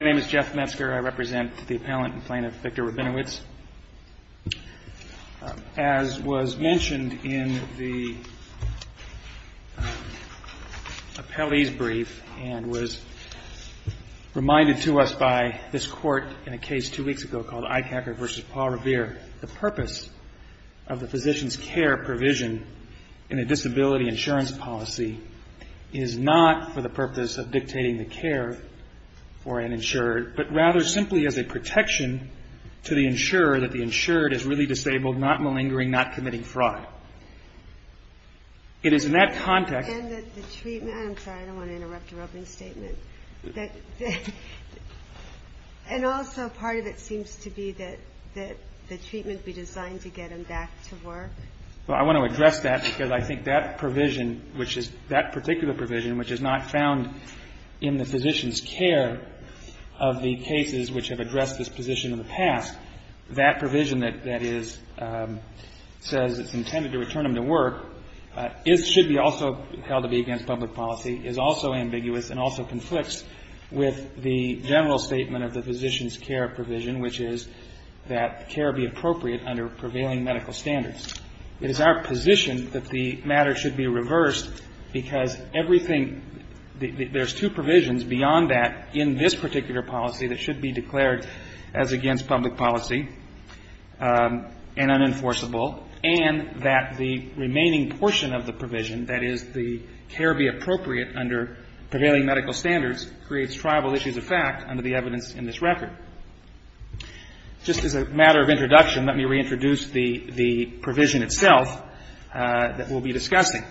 My name is Jeff Metzger. I represent the appellant and plaintiff, Victor Rabinowitz. As was mentioned in the appellee's brief and was reminded to us by this court in a case two weeks ago called Eichacker v. Paul Revere, the purpose of the physician's care provision in a disability insurance policy is not for the purpose of dictating the care for an insured, but rather simply as a protection to the insurer that the insured is really disabled, not malingering, not committing fraud. It is in that context And that the treatment, I'm sorry, I don't want to interrupt your opening statement. And also part of it seems to be that the treatment be designed to get him back to work. Well, I want to address that because I think that provision, which is that particular provision, which is not found in the physician's care of the cases which have addressed this position in the past, that provision that is, says it's intended to return him to work, is, should be also held to be against public policy, is also ambiguous and also conflicts with the general statement of the physician's care provision, which is that care be appropriate under prevailing medical standards. It is our position that the matter should be reversed because everything, there's two provisions beyond that in this particular policy that should be declared as against public policy and unenforceable, and that the remaining portion of the provision, that is, the care be appropriate under prevailing medical standards, creates tribal issues of fact under the evidence in this record. Just as a matter of introduction, let me reintroduce the provision itself that we'll be discussing.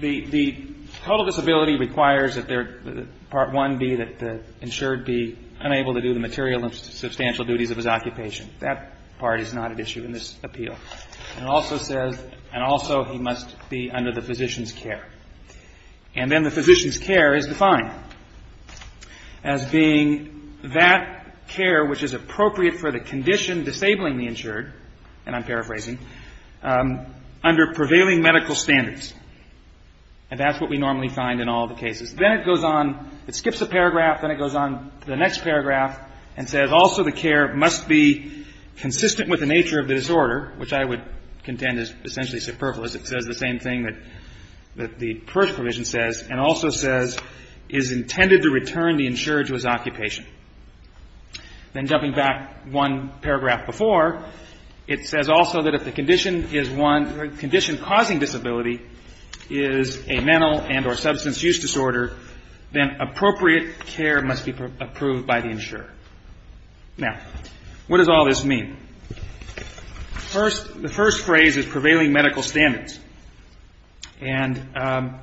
The total disability requires that Part 1 be that the insured be unable to do the material and substantial duties of his occupation. That part is not at issue in this appeal. And it also says, and also he must be under the physician's care. And then the physician's care is defined as being that care which is appropriate for the condition disabling the insured, and I'm paraphrasing, under prevailing medical standards. And that's what we normally find in all the cases. Then it goes on, it skips a paragraph, then it goes on to the next paragraph and says also the care must be consistent with the nature of the disorder, which I would contend is essentially superfluous. It says the same thing that the first provision says, and also says is intended to return the insured to his occupation. Then jumping back one paragraph before, it says also that if the condition is one, the condition causing disability is a mental and or substance use disorder, then appropriate care must be approved by the insurer. Now, what does all this mean? First, the first phrase is prevailing medical standards. And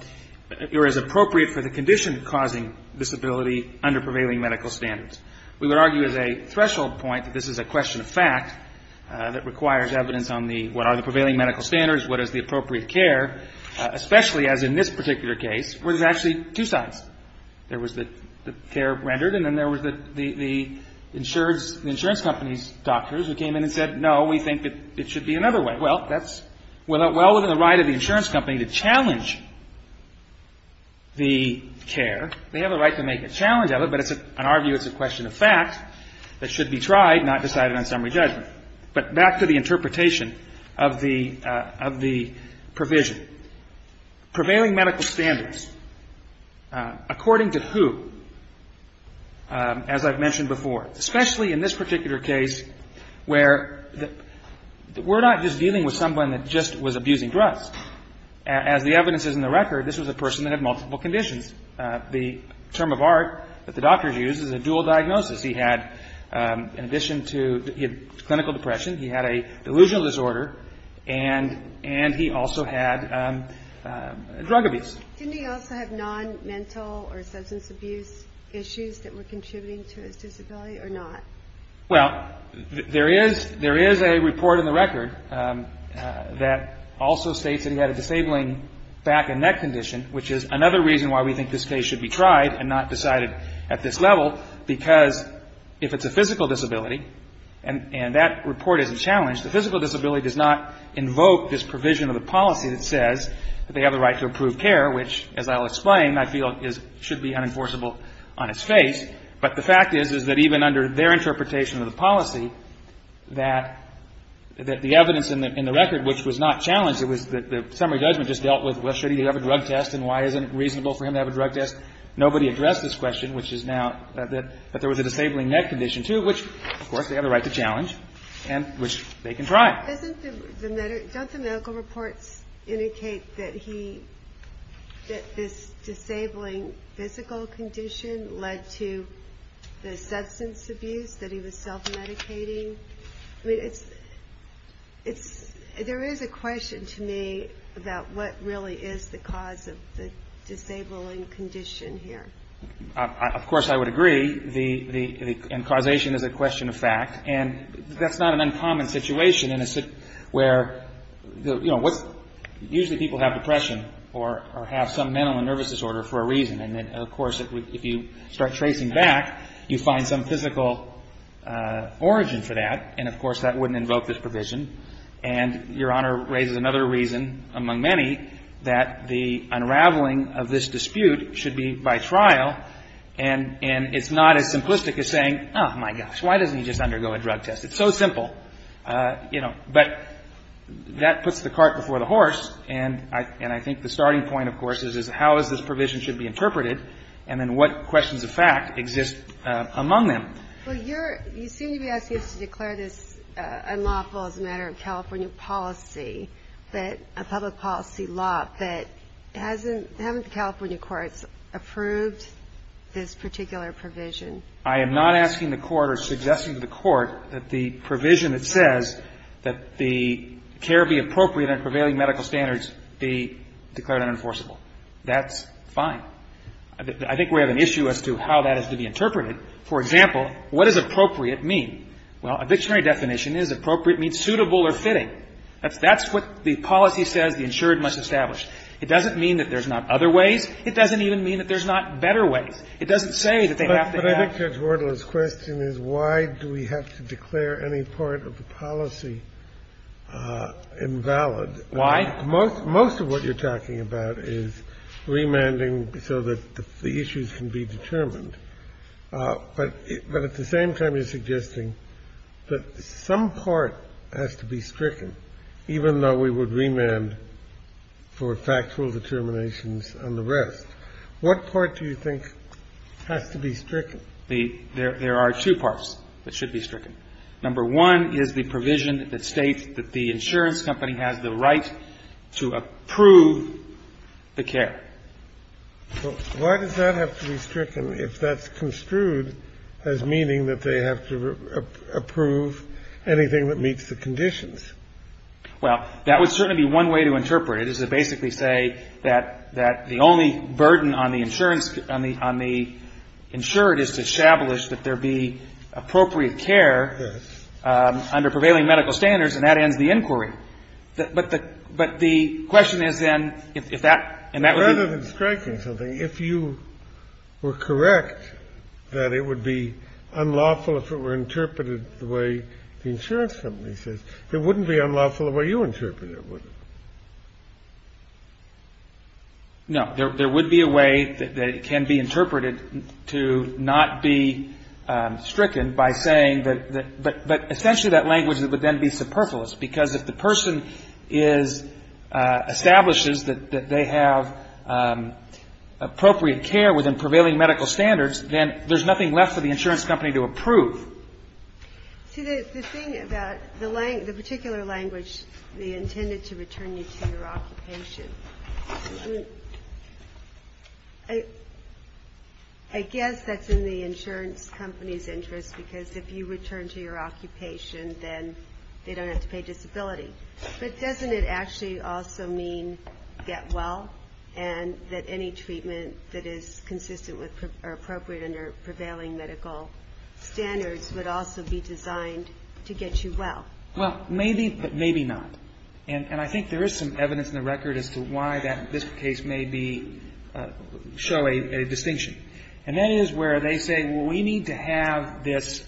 you're as appropriate for the condition causing disability under prevailing medical standards. We would argue as a threshold point that this is a question of fact that requires evidence on the what are the prevailing medical standards, what is the appropriate care, especially as in this particular case, where there's actually two sides. There was the care rendered and then there was the insurance company's doctors who came in and said, no, we think that it should be another way. Well, that's well within the right of the insurance company to challenge the care. They have a right to make a challenge of it, but on our view it's a question of fact that should be tried, not decided on summary judgment. But back to the interpretation of the provision. Prevailing medical standards, according to who, as I've mentioned before, especially in this particular case where we're not just dealing with someone that just was abusing drugs. As the evidence is in the record, this was a person that had multiple conditions. The term of art that the doctors used is a dual diagnosis. He had, in addition to, he had clinical depression, he had a delusional disorder, and he also had drug abuse. Didn't he also have non-mental or substance abuse issues that were contributing to his disability or not? Well, there is a report in the record that also states that he had a disabling back and neck condition, which is another reason why we think this case should be tried and not decided at this level, because if it's a physical disability, and that report isn't challenged, the physical disability does not invoke this provision of the policy that says that they have the right to approved care, which, as I'll explain, I feel should be unenforceable on its face. But the fact is, is that even under their interpretation of the policy, that the evidence in the record, which was not challenged, it was that the summary judgment just dealt with, well, should he have a drug test, and why isn't it reasonable for him to have a drug test? Nobody addressed this question, which is now that there was a disabling neck condition, too, which, of course, they have the right to challenge, and which they can try. Don't the medical reports indicate that he, that this disabling physical condition led to the substance abuse, that he was self-medicating? I mean, it's, it's, there is a question to me about what really is the cause of the disabling condition here. Of course, I would agree, the, the, and causation is a question of fact, and that's not an uncommon situation in a, where, you know, what's, usually people have depression or have some mental and nervous disorder for a reason, and then, of course, if you start tracing back, you find some physical origin for that, and, of course, that wouldn't invoke this provision. And Your Honor raises another reason, among many, that the unraveling of this dispute should be by trial, and, and it's not as simplistic as saying, oh, my gosh, why doesn't he just undergo a drug test? It's so simple, you know, but that puts the cart before the horse, and I, and I think the starting point, of course, is, is how is this provision should be interpreted, and then what questions of fact exist among them? Well, you're, you seem to be asking us to declare this unlawful as a matter of California policy, that a public policy law that hasn't, haven't the California courts approved this particular provision? I am not asking the Court or suggesting to the Court that the provision that says that the care be appropriate and prevailing medical standards be declared unenforceable. That's fine. I think we have an issue as to how that is to be interpreted. For example, what does appropriate mean? Well, evictionary definition is appropriate means suitable or fitting. That's, that's what the policy says the insured must establish. It doesn't mean that there's not other ways. It doesn't even mean that there's not better ways. It doesn't say that they have to act. But I think Judge Wardle's question is, why do we have to declare any part of the policy invalid? Why? Most, most of what you're talking about is remanding so that the issues can be determined. But at the same time, you're suggesting that some part has to be stricken, even though we would remand for factual determinations and the rest. What part do you think has to be stricken? There are two parts that should be stricken. Number one is the provision that states that the insurance company has the right to approve the care. Why does that have to be stricken if that's construed as meaning that they have to approve anything that meets the conditions? Well, that would certainly be one way to interpret it, is to basically say that the only burden on the insurance, on the insured is to establish that there be appropriate care under prevailing medical standards, and that ends the inquiry. But the question is then if that, and that would be the question. Rather than striking something, if you were correct that it would be unlawful if it were interpreted the way the insurance company says, it wouldn't be unlawful the way you interpret it, would it? No. There would be a way that it can be interpreted to not be stricken by saying that the, but essentially that language would then be superfluous, because if the person is, establishes that they have appropriate care within prevailing medical standards, then there's nothing left for the insurance company to approve. See, the thing about the particular language, the intended to return you to your occupation, I guess that's in the insurance company's interest, because if you return to your occupation, then they don't have to pay disability. But doesn't it actually also mean get well, and that any treatment that is consistent with, or appropriate under prevailing medical standards would also be designed to get you well? Well, maybe, but maybe not. And I think there is some evidence in the record as to why that, this case may be, show a distinction. And that is where they say, well, we need to have this,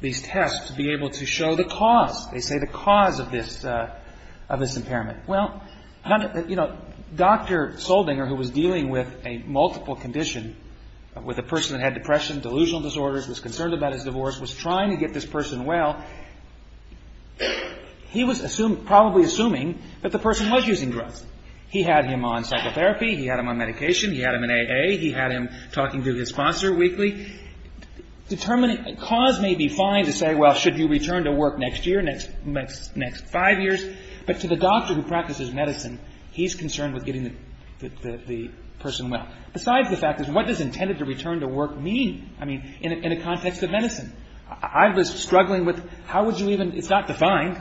these tests be able to show They say the cause of this, of this impairment. Well, you know, Dr. Soldinger, who was dealing with a multiple condition, with a person that had depression, delusional disorders, was concerned about his divorce, was trying to get this person well. He was probably assuming that the person was using drugs. He had him on psychotherapy. He had him on medication. He had him in AA. He had him talking to his sponsor weekly. Determining, cause may be fine to say, well, should you return to work next year, next five years? But to the doctor who practices medicine, he's concerned with getting the person well. Besides the fact, what does intended to return to work mean? I mean, in a context of medicine. I was struggling with, how would you even, it's not defined.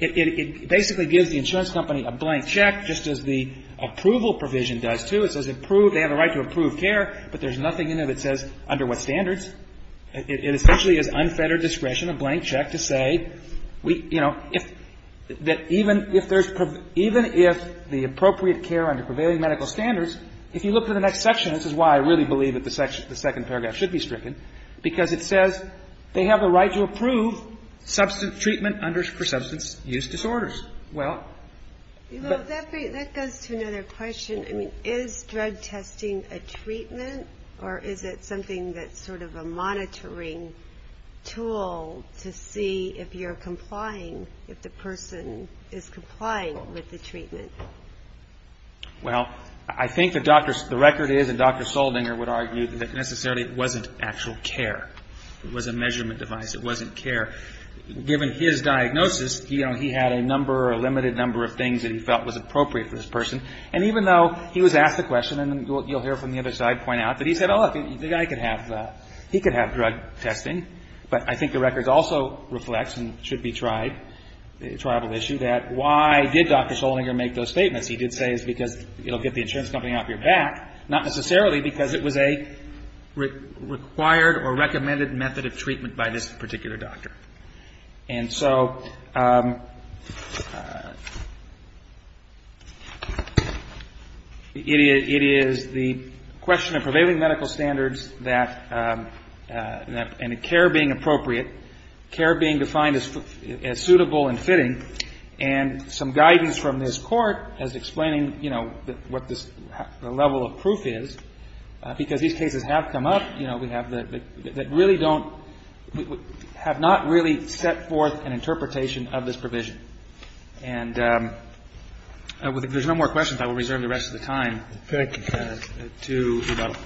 It basically gives the insurance company a blank check, just as the approval provision does too. It says approve, they have a right to approve care, but there's nothing in there that says under what standards. It essentially is unfettered discretion, a blank check to say, you know, that even if there's, even if the appropriate care under prevailing medical standards, if you look to the next section, this is why I really believe that the second paragraph should be stricken, because it says they have a right to approve treatment for substance use disorders. Well. That goes to another question. I mean, is drug testing a treatment, or is it something that's sort of a monitoring tool to see if you're complying, if the person is complying with the treatment? Well, I think the record is, and Dr. Soldinger would argue, that necessarily it wasn't actual care. It was a measurement device. It wasn't care. Given his diagnosis, you know, he had a number or a limited number of things that he felt was appropriate for this person. And even though he was asked the question, and you'll hear from the other side point out, that he said, oh, look, the guy could have, he could have drug testing, but I think the record also reflects and should be tried, a tribal issue, that why did Dr. Soldinger make those statements? He did say it's because it'll get the insurance company off your back, not necessarily because it was a required or recommended method of treatment by this particular doctor. And so it is the question of prevailing medical standards that, and care being appropriate, care being defined as suitable and fitting, and some guidance from this Court as explaining, you know, what this level of proof is, because these cases have come up, you know, that really don't, have not really set forth an interpretation of this provision. And if there's no more questions, I will reserve the rest of the time. Thank you, Your Honor.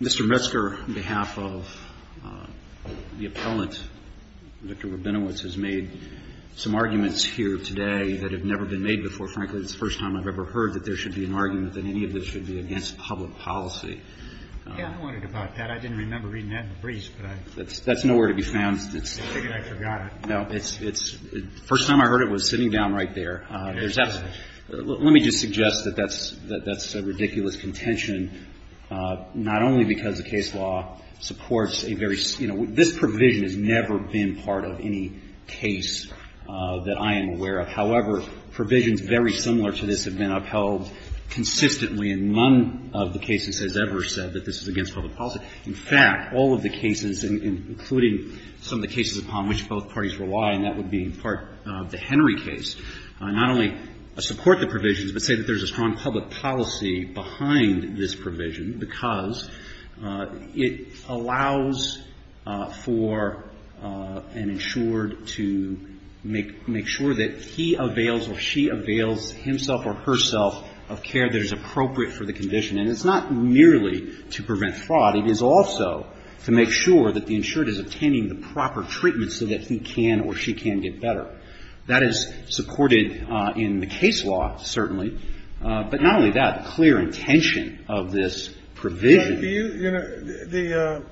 Mr. Metzger, on behalf of the appellant, Dr. Rabinowitz, has made some arguments here today that have never been made before. Frankly, this is the first time I've ever heard that there should be an argument that any of this should be against public policy. Yeah, I wondered about that. I didn't remember reading that in the briefs, but I... That's nowhere to be found. I figured I forgot it. No. It's the first time I heard it was sitting down right there. Let me just suggest that that's a ridiculous contention, not only because the case law supports a very, you know, this provision has never been part of any case that I am aware of. However, provisions very similar to this have been upheld consistently in none of the cases has ever said that this is against public policy. In fact, all of the cases, including some of the cases upon which both parties rely, and that would be part of the Henry case, not only support the provisions but say that there's a strong public policy behind this provision because it allows for an insured to make sure that he avails or she avails himself or herself of care that is appropriate for the condition. And it's not merely to prevent fraud. It is also to make sure that the insured is obtaining the proper treatment so that he can or she can get better. That is supported in the case law, certainly. But not only that, the clear intention of this provision... But do you, you know, the,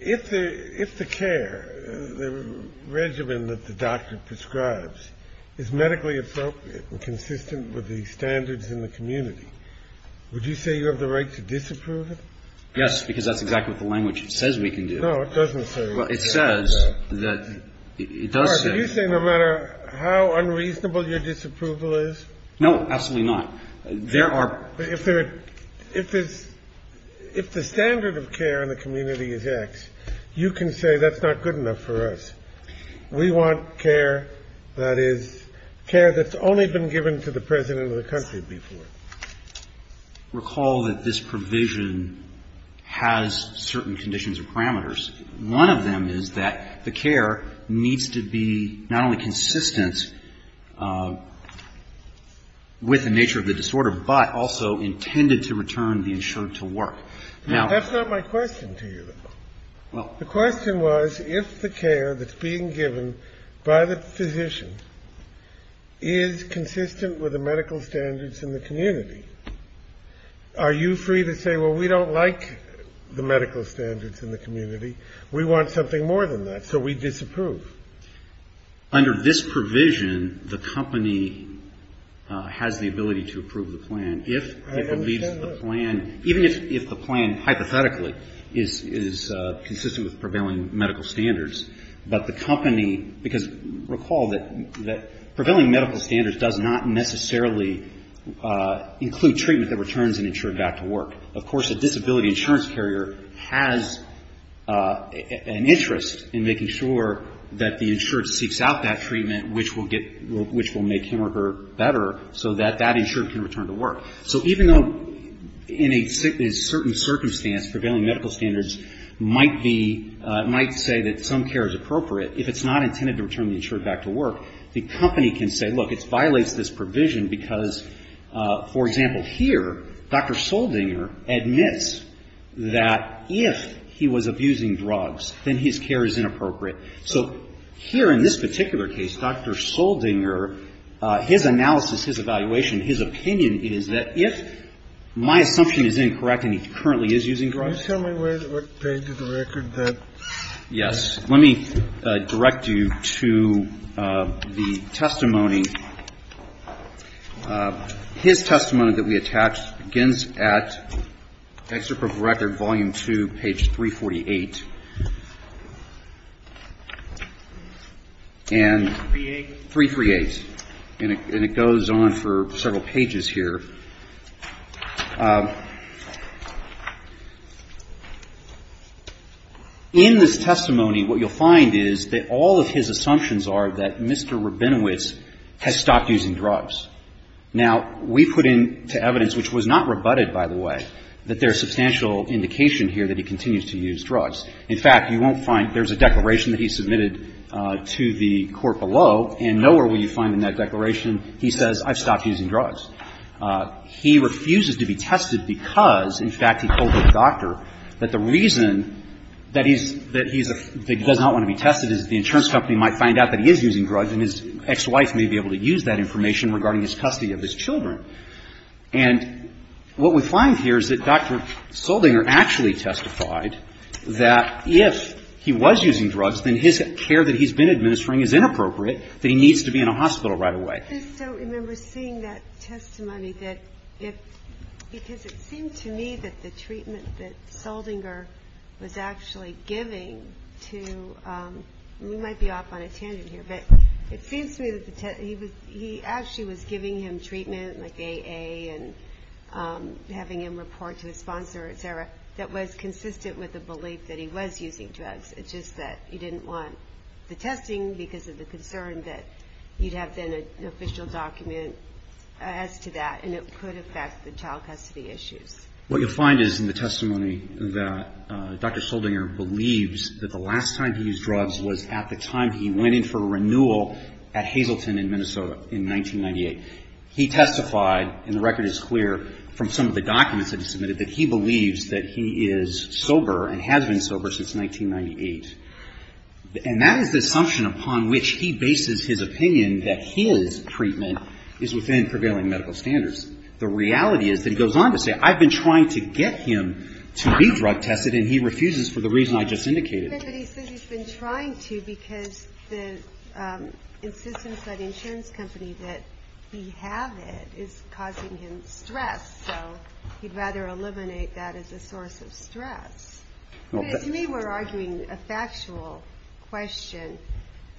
if the care, the regimen that the doctor prescribes is medically appropriate and consistent with the standards in the community, would you say you have the right to disapprove it? Yes, because that's exactly what the language says we can do. No, it doesn't say that. Well, it says that it does say... Are you saying no matter how unreasonable your disapproval is? No, absolutely not. There are... If there, if it's, if the standard of care in the community is X, you can say that's not good enough for us. We want care that is, care that's only been given to the President of the country before. Recall that this provision has certain conditions or parameters. One of them is that the care needs to be not only consistent with the nature of the disorder, but also intended to return the insured to work. Now... That's not my question to you, though. Well... The question was if the care that's being given by the physician is consistent with the medical standards in the community, are you free to say, well, we don't like the medical standards in the community. We want something more than that, so we disapprove. Under this provision, the company has the ability to approve the plan if it leaves the plan, even if the plan hypothetically is consistent with prevailing medical standards. But the company, because recall that prevailing medical standards does not necessarily include treatment that returns an insured back to work. Of course, a disability insurance carrier has an interest in making sure that the insured seeks out that treatment, which will get, which will make him or her better, so that that insured can return to work. So even though in a certain circumstance, prevailing medical standards might be, might say that some care is appropriate, if it's not intended to return the insured back to work, the company can say, look, it violates this provision because, for example, here, Dr. Soldinger admits that if he was abusing drugs, then his care is inappropriate. So here in this particular case, Dr. Soldinger, his analysis, his evaluation, his opinion is that if my assumption is incorrect and he currently is using drugs... Yes. Let me direct you to the testimony. His testimony that we attached begins at Excerpt of Record, Volume 2, page 348. And... 338. 338. And it goes on for several pages here. In this testimony, what you'll find is that all of his assumptions are that Mr. Rabinowitz has stopped using drugs. Now, we put into evidence, which was not rebutted, by the way, that there is substantial indication here that he continues to use drugs. In fact, you won't find there's a declaration that he submitted to the court below, and nowhere will you find in that declaration he says, I've stopped using drugs. He refuses to be tested because, in fact, he told the doctor that the reason that he's – that he does not want to be tested is that the insurance company might find out that he is using drugs and his ex-wife may be able to use that information regarding his custody of his children. And what we find here is that Dr. Soldinger actually testified that if he was using drugs, then his care that he's been administering is inappropriate, that he needs to be taken to a hospital right away. I just don't remember seeing that testimony that if – because it seemed to me that the treatment that Soldinger was actually giving to – we might be off on a tangent here, but it seems to me that he was – he actually was giving him treatment, like AA, and having him report to his sponsor, et cetera, that was consistent with the belief that he was using drugs, it's just that he didn't want the testing because of the fact that you'd have then an official document as to that and it could affect the child custody issues. What you'll find is in the testimony that Dr. Soldinger believes that the last time he used drugs was at the time he went in for a renewal at Hazleton in Minnesota in 1998. He testified, and the record is clear, from some of the documents that he submitted, that he believes that he is sober and has been sober since 1998. And that is the assumption upon which he bases his opinion that his treatment is within prevailing medical standards. The reality is that he goes on to say, I've been trying to get him to be drug tested and he refuses for the reason I just indicated. But he says he's been trying to because the insistence by the insurance company that he have it is causing him stress, so he'd rather eliminate that as a source of stress. To me, we're arguing a factual question.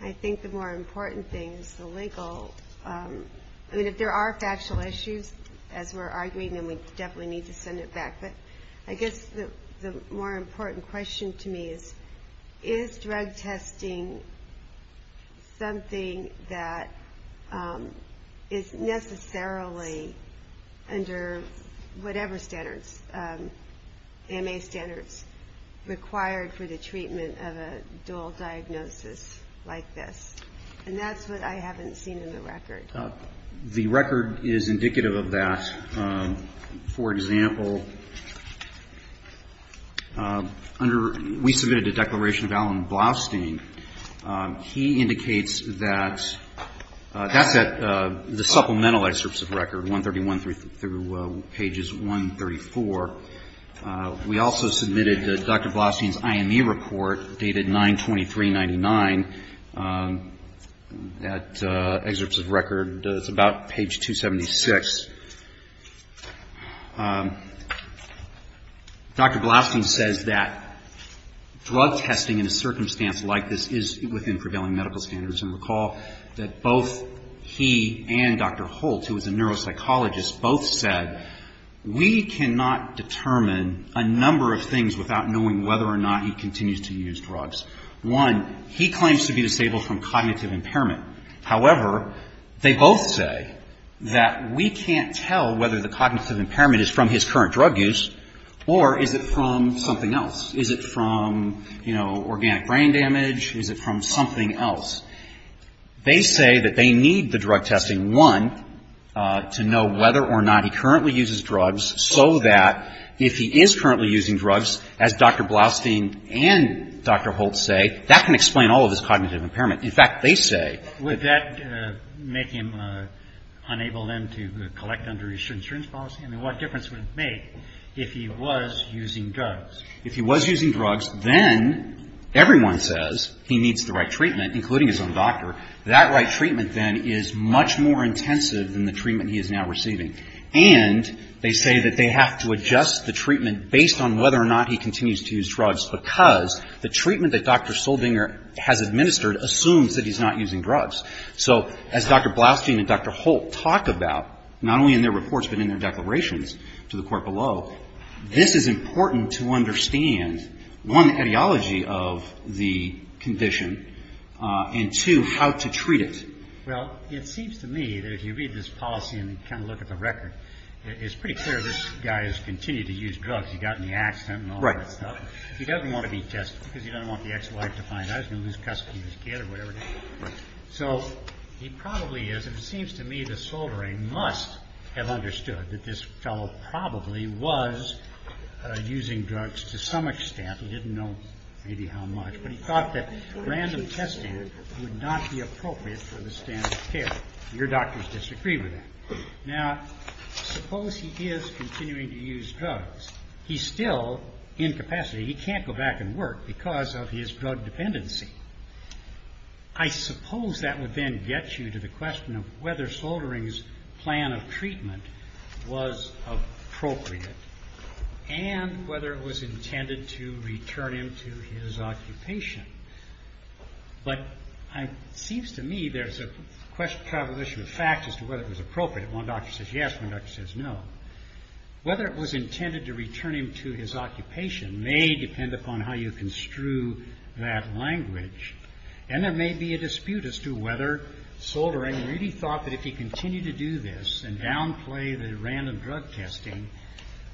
I think the more important thing is the legal. I mean, if there are factual issues, as we're arguing, then we definitely need to send it back. But I guess the more important question to me is, is drug testing something that is necessarily under whatever standards, MA standards, required for the treatment of a dual diagnosis like this? And that's what I haven't seen in the record. The record is indicative of that. For example, under we submitted a declaration of Allan Blaustein. He indicates that that's at the supplemental excerpts of record, 131 through pages 134. We also submitted Dr. Blaustein's IME report dated 9-23-99. That excerpt of record is about page 276. Dr. Blaustein says that drug testing in a circumstance like this is within prevailing medical standards. And recall that both he and Dr. Holt, who is a neuropsychologist, both said we cannot determine a number of things without knowing whether or not he continues to use drugs. One, he claims to be disabled from cognitive impairment. However, they both say that we can't tell whether the cognitive impairment is from his current drug use or is it from something else. Is it from, you know, organic brain damage? Is it from something else? They say that they need the drug testing, one, to know whether or not he currently uses drugs so that if he is currently using drugs, as Dr. Blaustein and Dr. Holt say, that can explain all of his cognitive impairment. In fact, they say that Would that make him unable then to collect under his insurance policy? I mean, what difference would it make if he was using drugs? If he was using drugs, then everyone says he needs the right treatment, including his own doctor. That right treatment then is much more intensive than the treatment he is now receiving. And they say that they have to adjust the treatment based on whether or not he continues to use drugs because the treatment that Dr. Soldinger has administered assumes that he's not using drugs. So as Dr. Blaustein and Dr. Holt talk about, not only in their reports but in their declarations to the Court below, this is important to understand, one, the ideology of the condition, and, two, how to treat it. Well, it seems to me that if you read this policy and kind of look at the record, it's pretty clear this guy has continued to use drugs. He got in the accident and all that stuff. He doesn't want to be tested because he doesn't want the ex-wife to find out he's going to lose custody of his kid or whatever. So he probably is, and it seems to me that Soldinger must have understood that this fellow probably was using drugs to some extent. He didn't know maybe how much. But he thought that random testing would not be appropriate for the standard care. Your doctors disagree with that. Now, suppose he is continuing to use drugs. He's still incapacitated. He can't go back and work because of his drug dependency. I suppose that would then get you to the question of whether Soldering's plan of treatment was appropriate and whether it was intended to return him to his occupation. But it seems to me there's a question of fact as to whether it was appropriate. One doctor says yes. One doctor says no. Whether it was intended to return him to his occupation may depend upon how you construe that language, and there may be a dispute as to whether Soldering really thought that if he continued to do this and downplay the random drug testing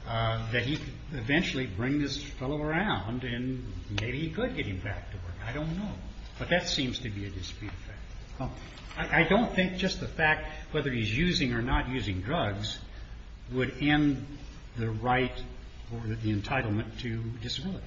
that he could eventually bring this fellow around and maybe he could get him back to work. I don't know. But that seems to be a dispute. I don't think just the fact whether he's using or not using drugs would end the right or the entitlement to disability.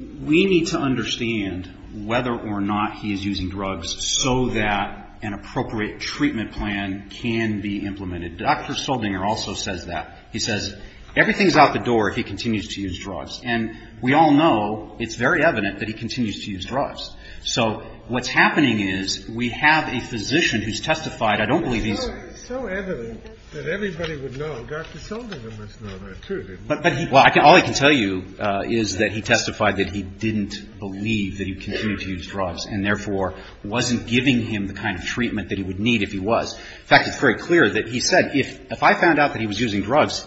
We need to understand whether or not he is using drugs so that an appropriate treatment plan can be implemented. Dr. Soldinger also says that. He says everything's out the door if he continues to use drugs. And we all know, it's very evident, that he continues to use drugs. So what's happening is we have a physician who's testified. I don't believe he's --- It's so evident that everybody would know. Dr. Soldinger must know that, too, didn't he? Well, all I can tell you is that he testified that he didn't believe that he would continue to use drugs and, therefore, wasn't giving him the kind of treatment that he would need if he was. In fact, it's very clear that he said, if I found out that he was using drugs,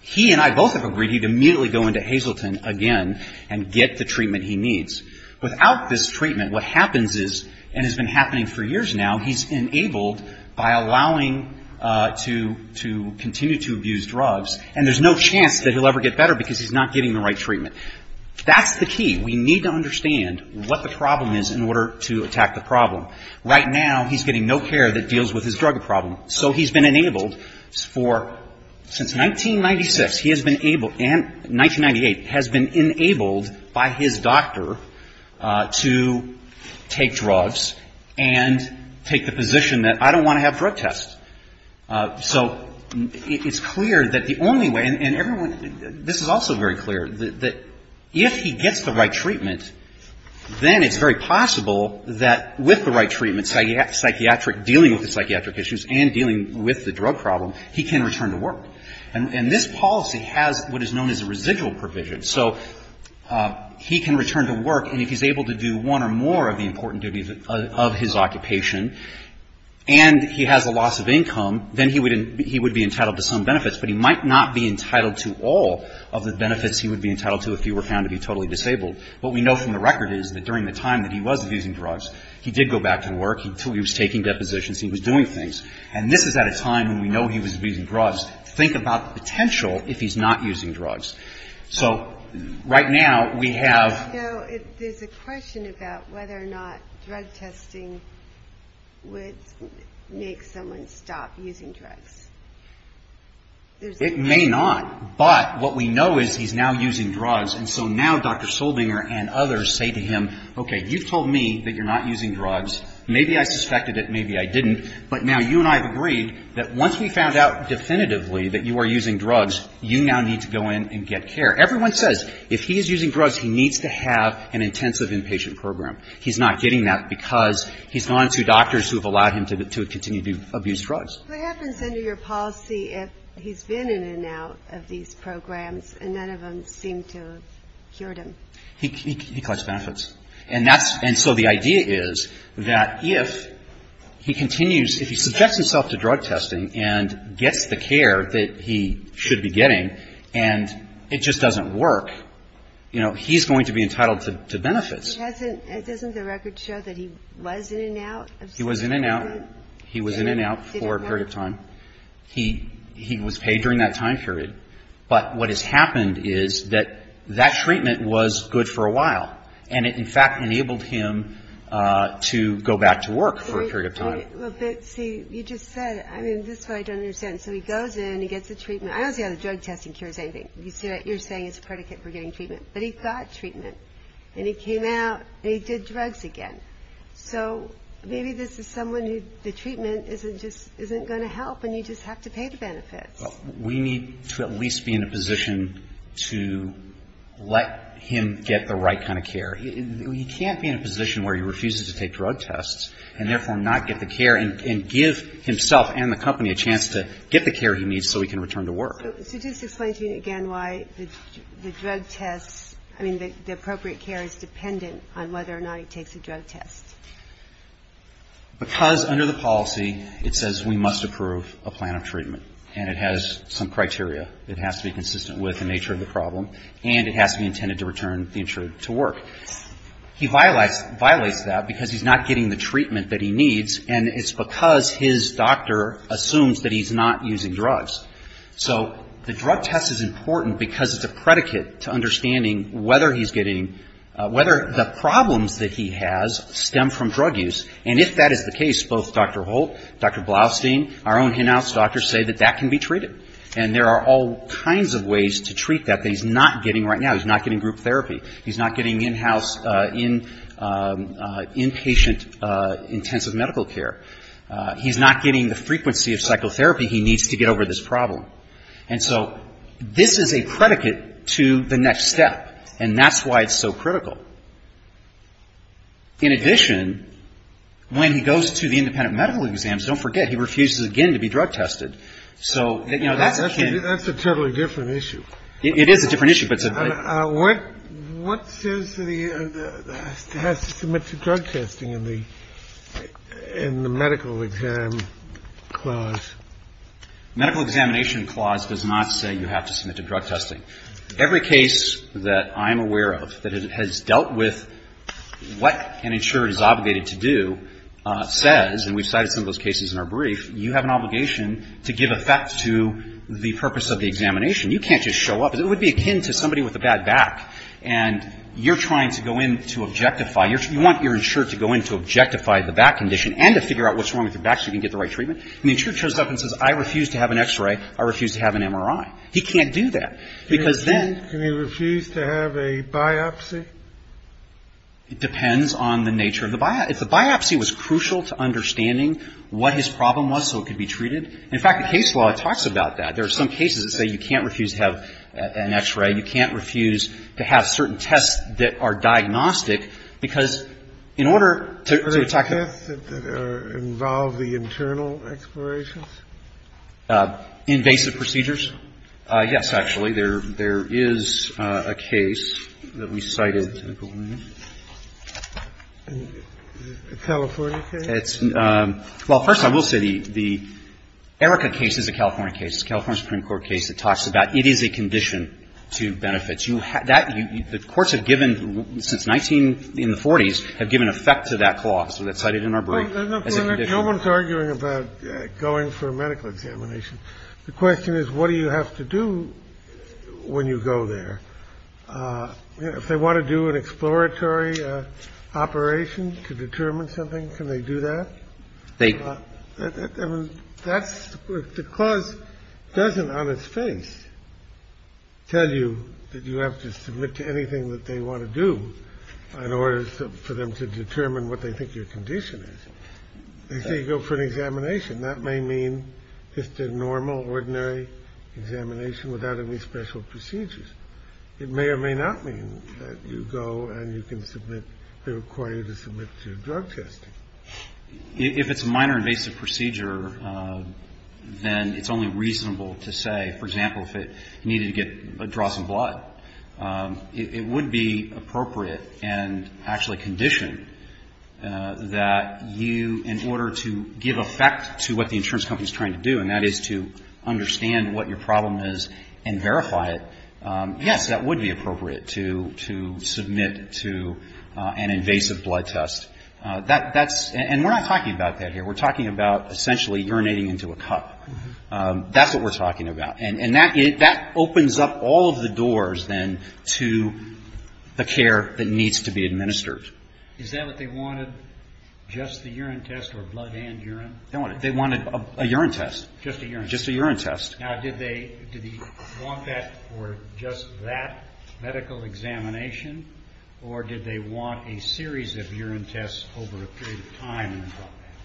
he and I both have agreed he'd immediately go into Hazleton again and get the treatment he needs. Without this treatment, what happens is, and has been happening for years now, he's enabled by allowing to continue to abuse drugs, and there's no chance that he'll ever get better because he's not getting the right treatment. That's the key. We need to understand what the problem is in order to attack the problem. Right now, he's getting no care that deals with his drug problem. So he's been enabled for, since 1996, he has been able, and 1998, has been enabled by his doctor to take drugs and take the position that I don't want to have drug tests. So it's clear that the only way, and everyone, this is also very clear, that if he gets the right treatment, then it's very possible that, with the right treatment, psychiatric, dealing with the psychiatric issues and dealing with the drug problem, he can return to work. And this policy has what is known as a residual provision. So he can return to work, and if he's able to do one or more of the important duties of his occupation, and he has a loss of income, then he would be entitled to some benefits, but he might not be entitled to all of the benefits he would be entitled to if he were found to be totally disabled. What we know from the record is that during the time that he was abusing drugs, he did go back to work. He was taking depositions. He was doing things. And this is at a time when we know he was abusing drugs. Think about the potential if he's not using drugs. So right now, we have... There's a question about whether or not drug testing would make someone stop using drugs. It may not. But what we know is he's now using drugs. And so now Dr. Soldinger and others say to him, okay, you've told me that you're not using drugs. Maybe I suspected it. Maybe I didn't. But now you and I have agreed that once we found out definitively that you are using drugs, you now need to go in and get care. Everyone says if he is using drugs, he needs to have an intensive inpatient program. He's not getting that because he's gone to doctors who have allowed him to continue to abuse drugs. What happens under your policy if he's been in and out of these programs and none of them seem to have cured him? He collects benefits. And that's... And so the idea is that if he continues, if he subjects himself to drug testing and gets the care that he should be getting and it just doesn't work, you know, he's going to be entitled to benefits. Doesn't the record show that he was in and out? He was in and out. He was in and out for a period of time. He was paid during that time period. But what has happened is that that treatment was good for a while. And it, in fact, enabled him to go back to work for a period of time. See, you just said it. I mean, this is what I don't understand. So he goes in, he gets the treatment. I don't see how the drug testing cures anything. You're saying it's a predicate for getting treatment. But he got treatment. And he came out and he did drugs again. So maybe this is someone who the treatment isn't going to help and you just have to pay the benefits. We need to at least be in a position to let him get the right kind of care. You can't be in a position where he refuses to take drug tests and therefore not get the care and give himself and the company a chance to get the care he needs so he can return to work. The appropriate care is dependent on whether or not he takes a drug test. Because under the policy it says we must approve a plan of treatment. And it has some criteria. It has to be consistent with the nature of the problem. And it has to be intended to return the insured to work. He violates that because he's not getting the treatment that he needs, and it's because his doctor assumes that he's not using drugs. So the drug test is important because it's a predicate to understanding whether he's getting, whether the problems that he has stem from drug use. And if that is the case, both Dr. Holt, Dr. Blaustein, our own hen house doctors say that that can be treated. And there are all kinds of ways to treat that that he's not getting right now. He's not getting group therapy. He's not getting in-house, inpatient intensive medical care. He's not getting the frequency of psychotherapy he needs to get over this problem. And so this is a predicate to the next step. And that's why it's so critical. In addition, when he goes to the independent medical exams, don't forget, he refuses again to be drug tested. So, you know, that's a can. That's a totally different issue. It is a different issue, but it's a very different issue. What says to the, has to submit to drug testing in the medical exam clause? Medical examination clause does not say you have to submit to drug testing. Every case that I'm aware of that has dealt with what an insured is obligated to do says, and we've cited some of those cases in our brief, you have an obligation to give effect to the purpose of the examination. You can't just show up. It would be akin to somebody with a bad back. And you're trying to go in to objectify. You want your insured to go in to objectify the back condition and to figure out what's wrong with the back so you can get the right treatment. And the insured shows up and says, I refuse to have an X-ray. I refuse to have an MRI. He can't do that, because then. Can he refuse to have a biopsy? It depends on the nature of the biopsy. If the biopsy was crucial to understanding what his problem was so it could be treated. In fact, the case law talks about that. There are some cases that say you can't refuse to have an X-ray. You can't refuse to have certain tests that are diagnostic, because in order to attack Invasive procedures? Yes, actually. There is a case that we cited. A California case? Well, first of all, I will say the Erica case is a California case. It's a California Supreme Court case that talks about it is a condition to benefit. The courts have given, since 1940s, have given effect to that clause that's cited in our brief. No one's arguing about going for a medical examination. The question is, what do you have to do when you go there? If they want to do an exploratory operation to determine something, can they do that? The clause doesn't on its face tell you that you have to submit to anything that they want to do in order for them to determine what they think your condition is. They say you go for an examination. That may mean just a normal, ordinary examination without any special procedures. It may or may not mean that you go and you can submit, they require you to submit to drug testing. If it's a minor invasive procedure, then it's only reasonable to say, for example, if it needed to draw some blood. It would be appropriate and actually condition that you, in order to give effect to what the insurance company is trying to do, and that is to understand what your problem is and verify it, yes, that would be appropriate to submit to an invasive blood test. That's, and we're not talking about that here. We're talking about essentially urinating into a cup. That's what we're talking about. And that opens up all of the doors then to the care that needs to be administered. Is that what they wanted, just the urine test or blood and urine? They wanted a urine test. Just a urine test. Just a urine test. Now, did they want that or just that medical examination, or did they want a series of urine tests over a period of time?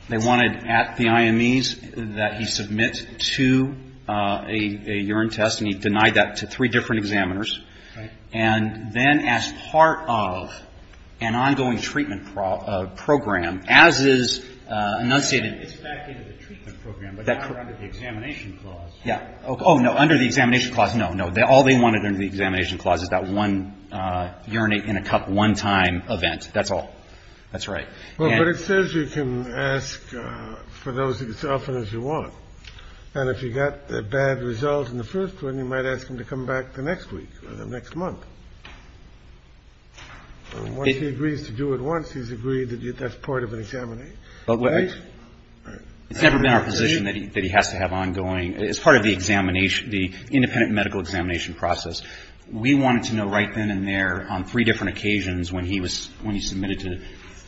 They wanted at the IMEs that he submit to a urine test, and he denied that to three different examiners. Right. And then as part of an ongoing treatment program, as is enunciated. It's back into the treatment program, but not under the examination clause. Yeah. Oh, no, under the examination clause, no, no. All they wanted under the examination clause is that one urinate in a cup one time event. That's all. That's right. Well, but it says you can ask for those as often as you want. And if you got bad results in the first one, you might ask him to come back the next week or the next month. Once he agrees to do it once, he's agreed that that's part of an examination. Right? It's never been our position that he has to have ongoing, as part of the examination, the independent medical examination process. We wanted to know right then and there on three different occasions when he was, when he submitted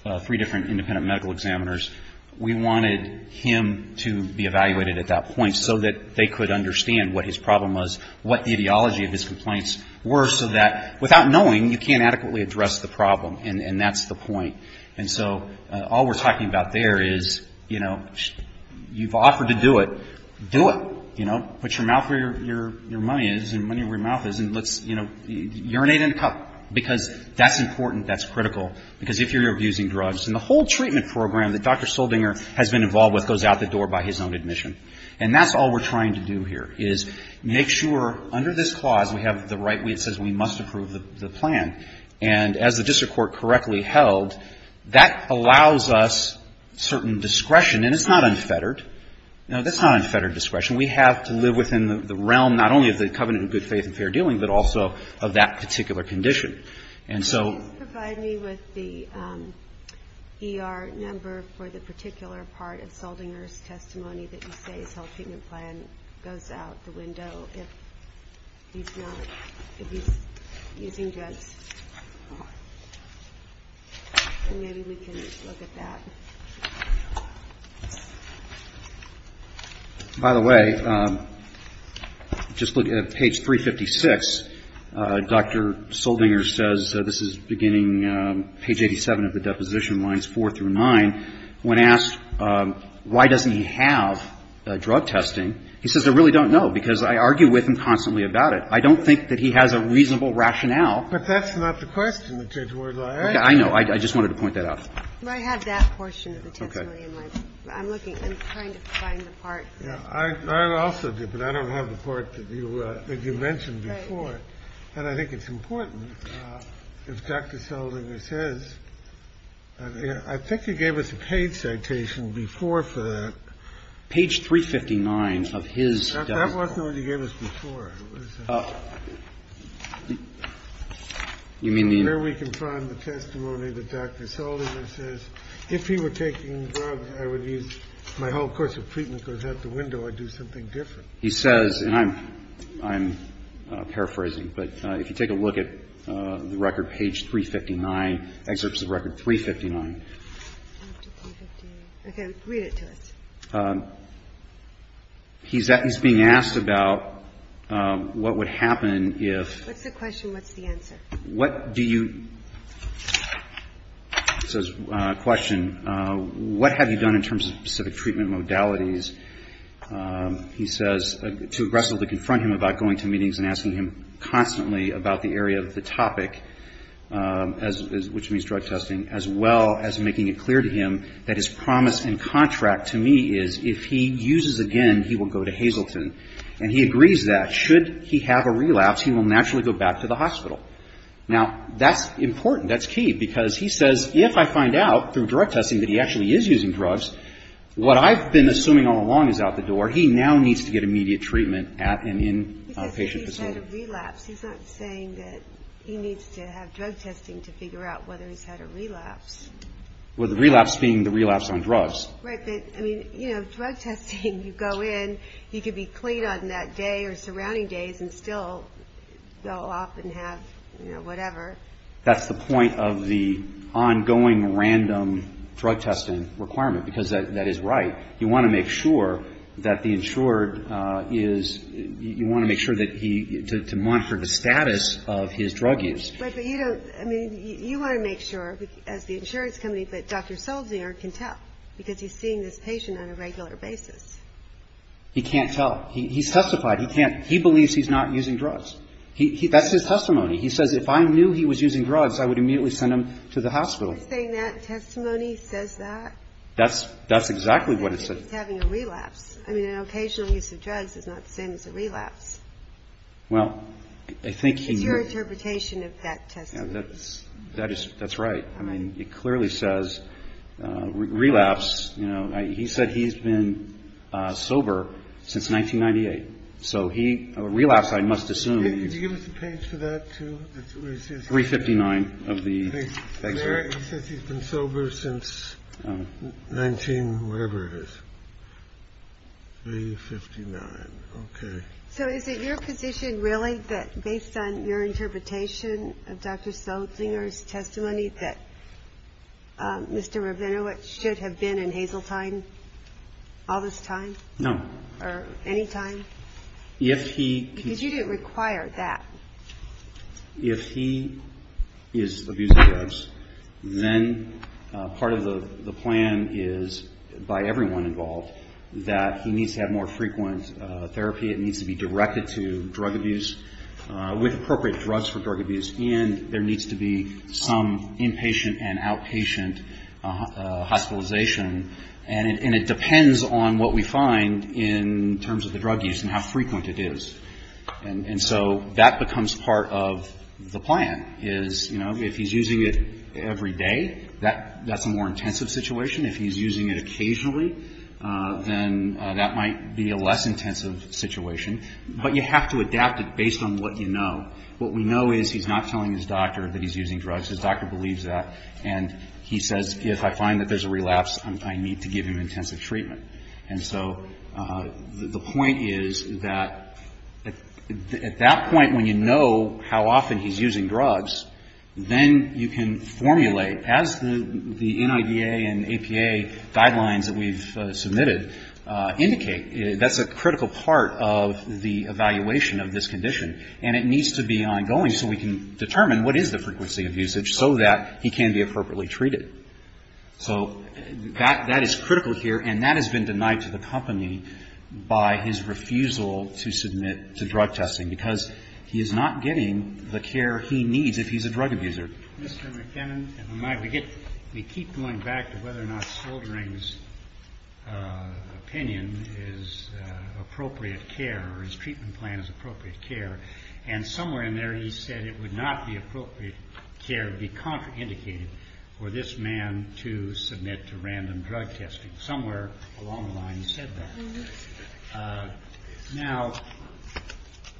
to three different independent medical examiners, we wanted him to be evaluated at that point so that they could understand what his problem was, what the ideology of his complaints were, so that without knowing, you can't adequately address the problem, and that's the point. And so all we're talking about there is, you know, you've offered to do it. Do it. You know, put your mouth where your money is and money where your mouth is and let's, you know, urinate in a cup, because that's important. That's critical. Because if you're abusing drugs, and the whole treatment program that Dr. Soldinger has been involved with goes out the door by his own admission. And that's all we're trying to do here is make sure under this clause we have the right, it says we must approve the plan. And as the district court correctly held, that allows us certain discretion. And it's not unfettered. No, that's not unfettered discretion. We have to live within the realm not only of the covenant of good faith and fair dealing, but also of that particular condition. And so ‑‑ And maybe we can look at that. By the way, just look at page 356. Dr. Soldinger says, this is beginning page 87 of the deposition lines 4 through 9. When asked why doesn't he have drug testing, he says, I really don't know, because I argue with him constantly about it. I don't think that he has a reasonable rationale. But that's not the question. Okay. I know. I just wanted to point that out. I have that portion of the testimony. I'm looking. I'm trying to find the part. I also do, but I don't have the part that you mentioned before. And I think it's important if Dr. Soldinger says, I think he gave us a page citation before for that. Page 359 of his deposition. That wasn't what he gave us before. You mean the ‑‑ Where we can find the testimony that Dr. Soldinger says, if he were taking drugs, I would use my whole course of treatment, because out the window I'd do something different. He says, and I'm paraphrasing, but if you take a look at the record, page 359, excerpts of record 359. Okay. Read it to us. He's being asked about what would happen if ‑‑ What's the question? What's the answer? What do you ‑‑ he says, question, what have you done in terms of specific treatment modalities, he says, to aggressively confront him about going to meetings and asking him constantly about the area of the topic, which means drug testing, as well as making it clear to him that his promise and contract to me is, if he uses again, he will go to Hazleton. And he agrees that. Should he have a relapse, he will naturally go back to the hospital. Now, that's important. That's key, because he says, if I find out through drug testing that he actually is using drugs, what I've been assuming all along is out the door, he now needs to get immediate treatment at an inpatient facility. He's had a relapse. He's not saying that he needs to have drug testing to figure out whether he's had a relapse. Well, the relapse being the relapse on drugs. Right. But, I mean, you know, drug testing, you go in, he could be clean on that day or surrounding days and still go off and have, you know, whatever. That's the point of the ongoing random drug testing requirement, because that is right. You want to make sure that the insured is, you want to make sure that he, to monitor the status of his drug use. But you don't, I mean, you want to make sure, as the insurance company, that Dr. Solzner can tell, because he's seeing this patient on a regular basis. He can't tell. He's testified he can't, he believes he's not using drugs. That's his testimony. He says, if I knew he was using drugs, I would immediately send him to the hospital. He's saying that testimony says that? That's exactly what it says. He's having a relapse. I mean, an occasional use of drugs is not the same as a relapse. Well, I think he. It's your interpretation of that testimony. That's right. I mean, it clearly says relapse. You know, he said he's been sober since 1998. So he, a relapse, I must assume. Could you give us a page for that, too? 359 of the. He says he's been sober since 19, whatever it is. 359. Okay. So is it your position, really, that based on your interpretation of Dr. Solzner's testimony, that Mr. Rabinowitz should have been in Hazeltine all this time? No. Or any time? If he. Because you didn't require that. If he is abusing drugs, then part of the plan is, by everyone involved, that he needs to have more frequent therapy. It needs to be directed to drug abuse, with appropriate drugs for drug abuse. And there needs to be some inpatient and outpatient hospitalization. And it depends on what we find in terms of the drug use and how frequent it is. And so that becomes part of the plan, is, you know, if he's using it every day, that's a more intensive situation. If he's using it occasionally, then that might be a less intensive situation. But you have to adapt it based on what you know. What we know is he's not telling his doctor that he's using drugs. His doctor believes that. And he says, if I find that there's a relapse, I need to give him intensive treatment. And so the point is that at that point, when you know how often he's using drugs, then you can formulate, as the NIDA and APA guidelines that we've submitted indicate, that's a critical part of the evaluation of this condition. And it needs to be ongoing so we can determine what is the frequency of usage, so that he can be appropriately treated. So that is critical here. And that has been denied to the company by his refusal to submit to drug testing, because he is not getting the care he needs if he's a drug abuser. Mr. McKinnon, we keep going back to whether or not Sildring's opinion is appropriate care, or his treatment plan is appropriate care. And somewhere in there he said it would not be appropriate care, it would be contraindicated for this man to submit to random drug testing. Somewhere along the line he said that. Now,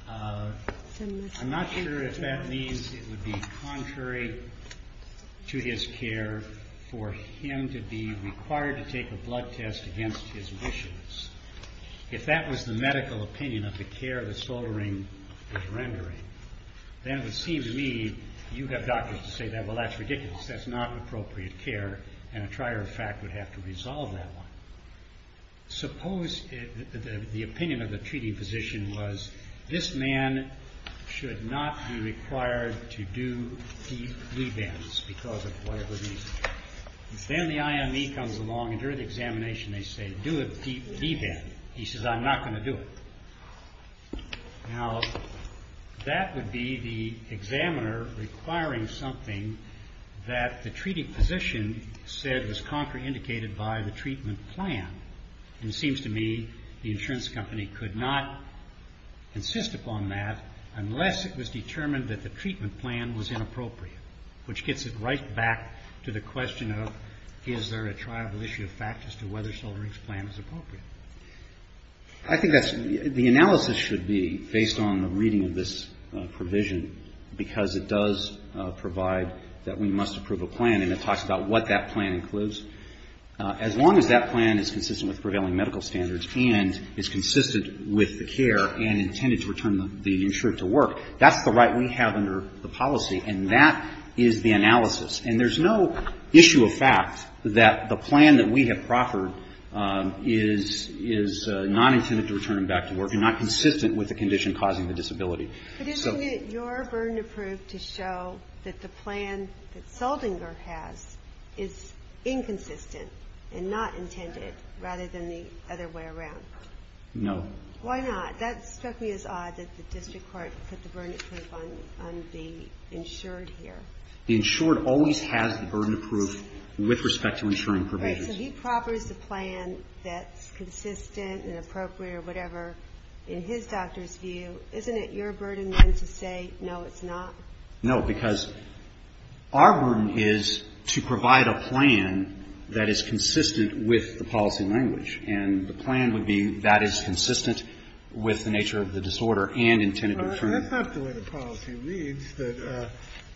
I'm not sure if that means it would be contrary to his care for him to be required to take a blood test against his wishes. If that was the medical opinion of the care that Sildring was rendering, then it would seem to me, you have doctors to say that, well that's ridiculous, that's not appropriate care, and a trier of fact would have to resolve that one. Suppose the opinion of the treating physician was, this man should not be required to do deep V-bands because of whatever reason. Then the IME comes along and during the examination they say, do a deep V-band. He says, I'm not going to do it. Now, that would be the examiner requiring something that the treating physician said was contraindicated by the treatment plan. And it seems to me the insurance company could not insist upon that unless it was determined that the treatment plan was inappropriate, which gets it right back to the question of, is there a triable issue of fact as to whether Sildring's plan was appropriate? I think the analysis should be based on the reading of this provision, because it does provide that we must approve a plan, and it talks about what that plan includes. As long as that plan is consistent with prevailing medical standards and is consistent with the care and intended to return the insured to work, that's the right we have under the policy, and that is the analysis. And there's no issue of fact that the plan that we have proffered is not intended to return him back to work and not consistent with the condition causing the disability. But isn't it your burden of proof to show that the plan that Sildring has is inconsistent and not intended, rather than the other way around? No. Why not? That struck me as odd that the district court put the burden of proof on the insured here. The insured always has the burden of proof with respect to insuring provisions. Right. So he proffers the plan that's consistent and appropriate or whatever. In his doctor's view, isn't it your burden then to say, no, it's not? No, because our burden is to provide a plan that is consistent with the policy language, and the plan would be that is consistent with the nature of the disorder and intended to return it. But that's not the way the policy reads, that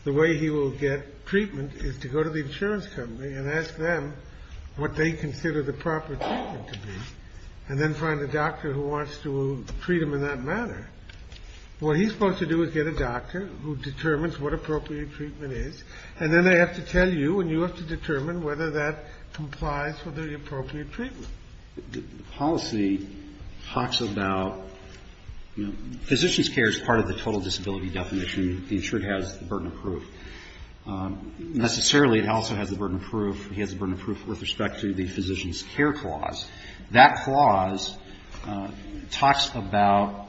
the way he will get treatment is to go to the insurance company and ask them what they consider the proper treatment to be, and then find a doctor who wants to treat him in that manner. What he's supposed to do is get a doctor who determines what appropriate treatment is, and then they have to tell you, and you have to determine whether that complies with the appropriate treatment. The policy talks about, you know, physician's care is part of the total disability definition. The insured has the burden of proof. Necessarily, it also has the burden of proof. He has the burden of proof with respect to the physician's care clause. That clause talks about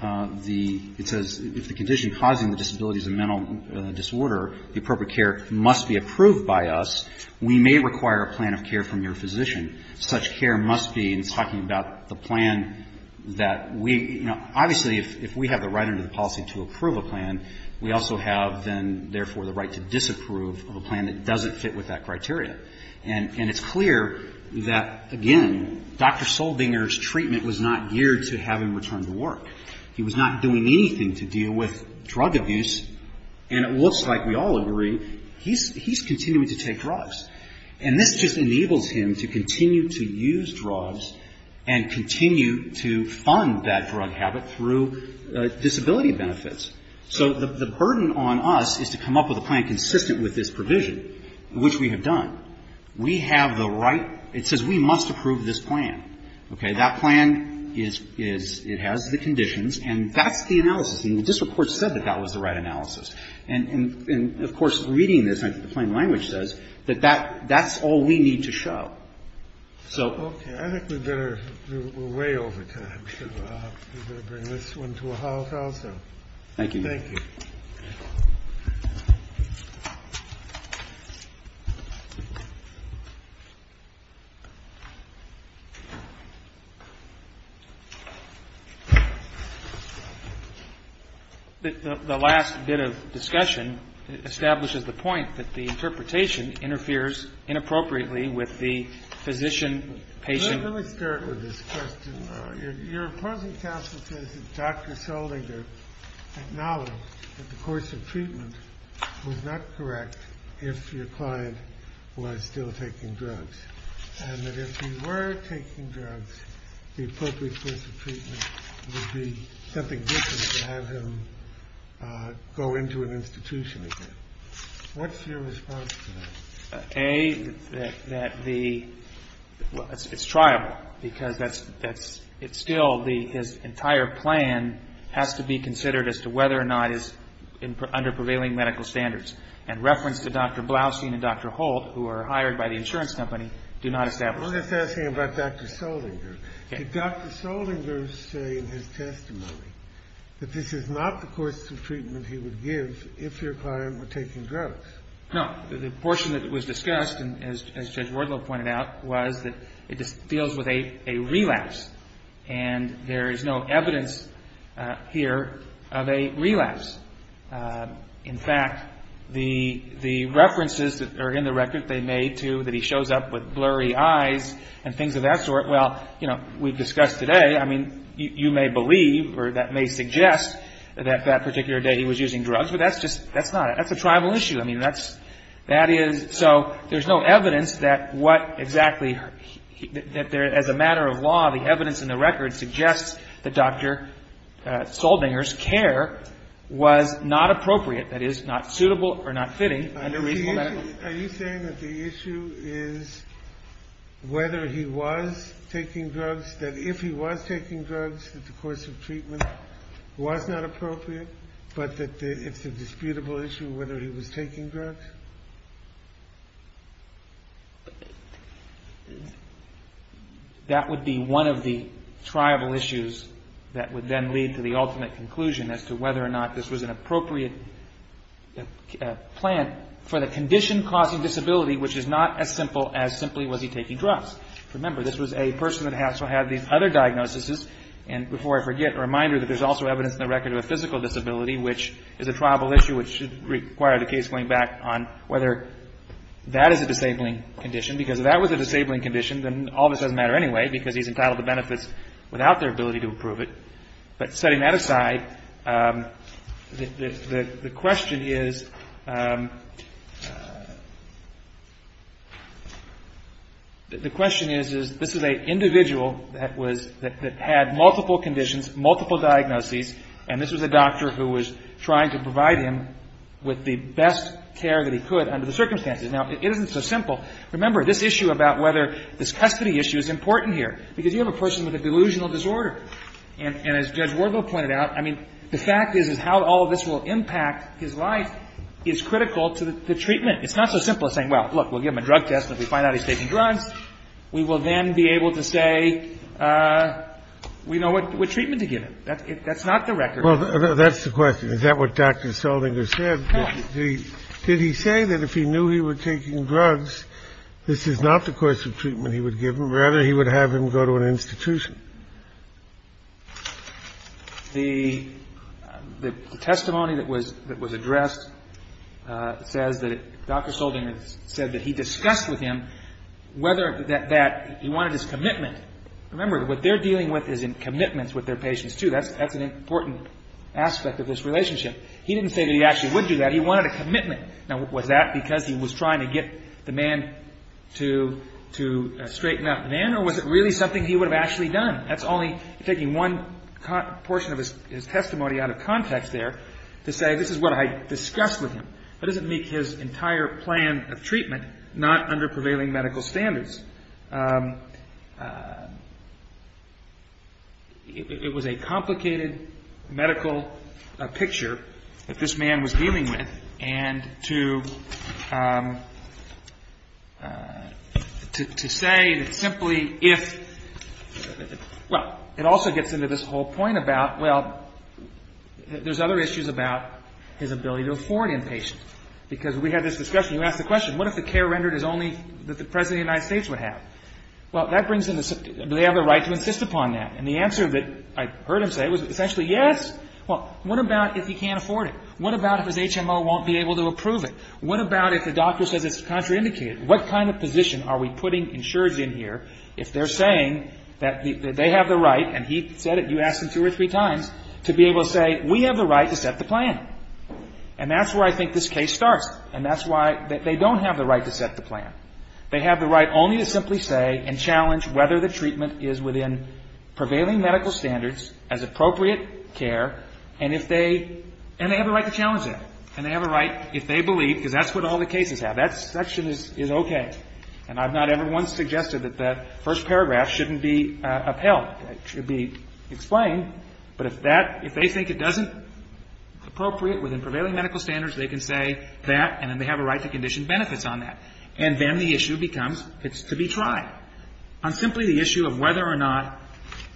the, it says, if the condition causing the disability is a mental disorder, the appropriate care must be approved by us. We may require a plan of care from your physician. Such care must be, and it's talking about the plan that we, you know, obviously if we have the right under the policy to approve a plan, we also have then, therefore, the right to disapprove of a plan that doesn't fit with that criteria. And it's clear that, again, Dr. Soldinger's treatment was not geared to have him return to work. He was not doing anything to deal with drug abuse, and it looks like we all agree he's continuing to take drugs. And this just enables him to continue to use drugs and continue to fund that drug habit through disability benefits. So the burden on us is to come up with a plan consistent with this provision, which we have done. We have the right, it says we must approve this plan. Okay. That plan is, it has the conditions, and that's the analysis. And the district court said that that was the right analysis. And, of course, reading this like the plain language says, that that's all we need to show. So. Okay. I think we better, we're way over time, so we better bring this one to a halt also. Thank you. Thank you. The last bit of discussion establishes the point that the interpretation interferes inappropriately with the physician-patient. Let me start with this question. Your opposing counsel says that Dr. Solinger acknowledged that the course of treatment was not correct if your client was still taking drugs. And that if he were taking drugs, the appropriate course of treatment would be something different to have him go into an institution again. What's your response to that? A, that the, well, it's triable, because that's, it's still the, his entire plan has to be considered as to whether or not it's under prevailing medical standards. And reference to Dr. Blaustein and Dr. Holt, who are hired by the insurance company, do not establish that. I'm just asking about Dr. Solinger. Did Dr. Solinger say in his testimony that this is not the course of treatment he would give if your client were taking drugs? No. The portion that was discussed, as Judge Wardlow pointed out, was that it deals with a relapse. And there is no evidence here of a relapse. In fact, the references that are in the record that they made, too, that he shows up with blurry eyes and things of that sort, well, you know, we've discussed today, I mean, you may believe or that may suggest that that particular day he was using drugs, but that's just, that's not, that's not an issue. I mean, that's, that is, so there's no evidence that what exactly, that there, as a matter of law, the evidence in the record suggests that Dr. Solinger's care was not appropriate, that is, not suitable or not fitting under reasonable medical standards. Are you saying that the issue is whether he was taking drugs, that if he was taking drugs, that the course of treatment was not appropriate, but that it's a disputable issue whether he was taking drugs? That would be one of the triable issues that would then lead to the ultimate conclusion as to whether or not this was an appropriate plan for the condition causing disability, which is not as simple as simply was he taking drugs. Remember, this was a person that also had these other diagnoses. And before I forget, a reminder that there's also evidence in the record of a physical disability, which is a triable issue which should require the case going back on whether that is a disabling condition, because if that was a disabling condition, then all of this doesn't matter anyway, because he's entitled to benefits without their ability to approve it. But setting that aside, the question is, the question is, this is an individual that was, that had multiple conditions, multiple diagnoses, and this was a doctor who was trying to provide him with the best care that he could under the circumstances. Now, it isn't so simple. Remember, this issue about whether this custody issue is important here, because you have a person with a delusional disorder. And as Judge Wardle pointed out, I mean, the fact is is how all of this will impact his life is critical to the treatment. It's not so simple as saying, well, look, we'll give him a drug test, and if we find out he's taking drugs, we will then be able to say we know what treatment to give him. That's not the record. That's the question. Is that what Dr. Soldinger said? Did he say that if he knew he was taking drugs, this is not the course of treatment he would give him, rather he would have him go to an institution? The testimony that was addressed says that Dr. Soldinger said that he discussed with him whether that he wanted his commitment. Remember, what they're dealing with is in commitments with their patients, too. That's an important aspect of this relationship. He didn't say that he actually would do that. He wanted a commitment. Now, was that because he was trying to get the man to straighten out the man, or was it really something he would have actually done? That's only taking one portion of his testimony out of context there to say this is what I discussed with him. That doesn't make his entire plan of treatment not under prevailing medical standards. It was a complicated medical picture that this man was dealing with, and to say that simply if – well, it also gets into this whole point about, well, there's other issues about his ability to afford inpatient. Because we had this discussion, you asked the question, what if the care rendered is only that the President of the United States would have? Well, that brings into – do they have the right to insist upon that? And the answer that I heard him say was essentially yes. Well, what about if he can't afford it? What about if his HMO won't be able to approve it? What about if the doctor says it's contraindicated? What kind of position are we putting insureds in here if they're saying that they have the right, and he said it, you asked him two or three times, to be able to say we have the right to set the plan? And that's where I think this case starts. And that's why they don't have the right to set the plan. They have the right only to simply say and challenge whether the treatment is within prevailing medical standards as appropriate care, and if they – and they have the right to challenge that. And they have a right if they believe, because that's what all the cases have. That section is okay. And I've not ever once suggested that that first paragraph shouldn't be upheld. It should be explained. But if that – if they think it doesn't – appropriate within prevailing medical standards, they can say that, and then they have a right to condition benefits on that. And then the issue becomes it's to be tried on simply the issue of whether or not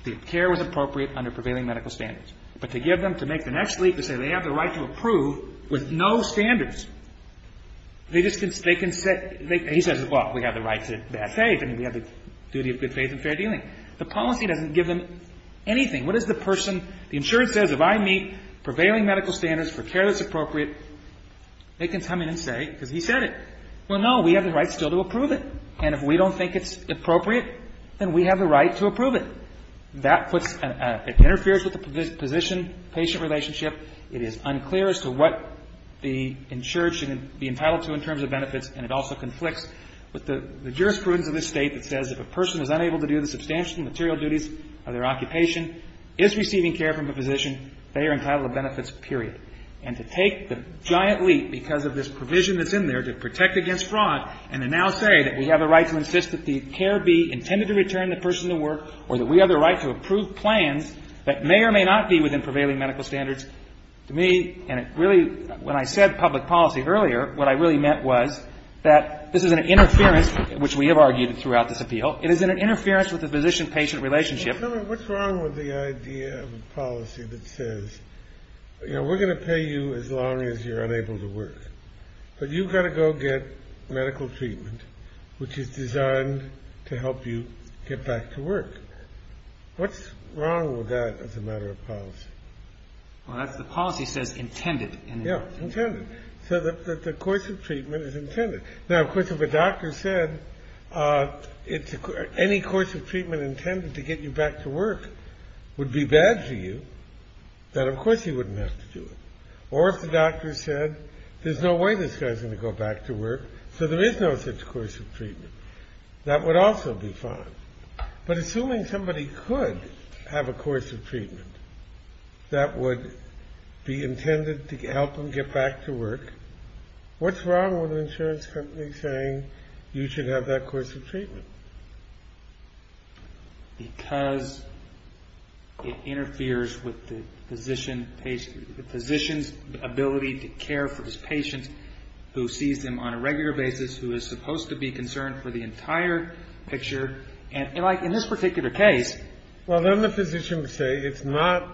the care was appropriate under prevailing medical standards. But to give them – to make the next leap to say they have the right to approve with no standards, they just can – they can say – he says, well, we have the right to be safe, and we have the duty of good faith and fair dealing. The policy doesn't give them anything. What does the person – the insurer says if I meet prevailing medical standards for care that's appropriate, they can come in and say, because he said it, well, no, we have the right still to approve it. And if we don't think it's appropriate, then we have the right to approve it. That puts – it interferes with the position-patient relationship. It is unclear as to what the insurer should be entitled to in terms of benefits, and it also conflicts with the jurisprudence of this State that says if a person is unable to do the substantial and material duties of their occupation, is receiving care from a physician, they are entitled to benefits, period. And to take the giant leap because of this provision that's in there to protect against fraud and to now say that we have the right to insist that the care be intended to return the person to work or that we have the right to approve plans that may or may not be within prevailing medical standards, to me – and it really – when I said public policy earlier, what I really meant was that this is an interference, which we have argued throughout this appeal. It is an interference with the physician-patient relationship. What's wrong with the idea of a policy that says, you know, we're going to pay you as long as you're unable to work, but you've got to go get medical treatment, which is designed to help you get back to work? What's wrong with that as a matter of policy? Well, the policy says intended. So the course of treatment is intended. Now, of course, if a doctor said any course of treatment intended to get you back to work would be bad for you, then, of course, he wouldn't have to do it. Or if the doctor said, there's no way this guy's going to go back to work, so there is no such course of treatment, that would also be fine. But assuming somebody could have a course of treatment that would be intended to help them get back to work, what's wrong with an insurance company saying you should have that course of treatment? Because it interferes with the physician's ability to care for his patients, who sees them on a regular basis, who is supposed to be concerned for the entire picture. And, like, in this particular case... Well, then the physician would say it's not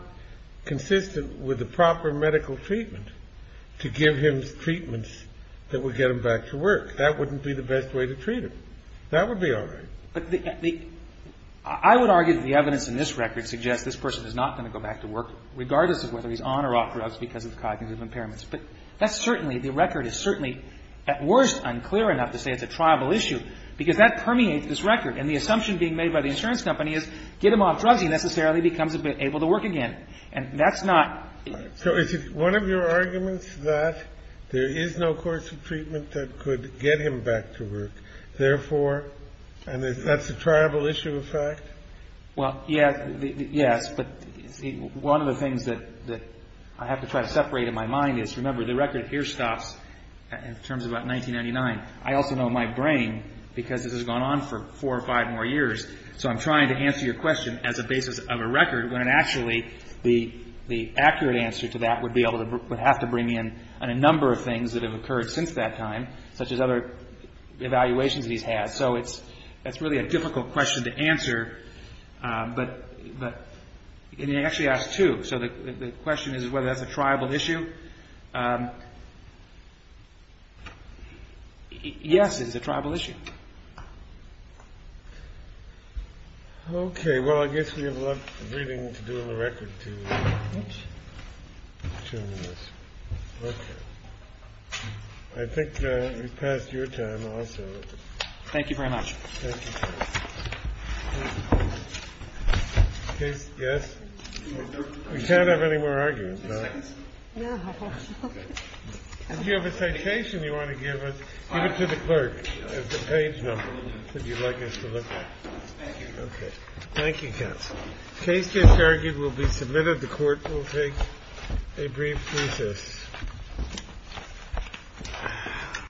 consistent with the proper medical treatment to give him treatments that would get him back to work. That wouldn't be the best way to treat him. That would be all right. But the – I would argue that the evidence in this record suggests this person is not going to go back to work, regardless of whether he's on or off drugs because of cognitive impairments. But that's certainly – the record is certainly, at worst, unclear enough to say it's a tribal issue, because that permeates this record. And the assumption being made by the insurance company is get him off drugs, he necessarily becomes able to work again. And that's not... So is it one of your arguments that there is no course of treatment that could get him back to work, therefore – and that's a tribal issue of fact? Well, yes. But one of the things that I have to try to separate in my mind is, remember, the record here stops in terms of about 1999. I also know in my brain, because this has gone on for four or five more years, so I'm trying to answer your question as a basis of a record, when actually the accurate answer to that would be able to – would have to bring in a number of things that have occurred since that time, such as other evaluations that he's had. So it's – that's really a difficult question to answer. But – and he actually asked two. So the question is whether that's a tribal issue. Yes, it is a tribal issue. Okay. Well, I guess we have a lot of reading to do on the record, too. Two minutes. Okay. I think we've passed your time also. Thank you very much. Thank you. Yes? We can't have any more arguments now. You have a citation you want to give us. Give it to the clerk. It's a page number that you'd like us to look at. Thank you. Okay. Thank you, counsel. The case gets argued. We'll be submitted. The court will take a brief recess.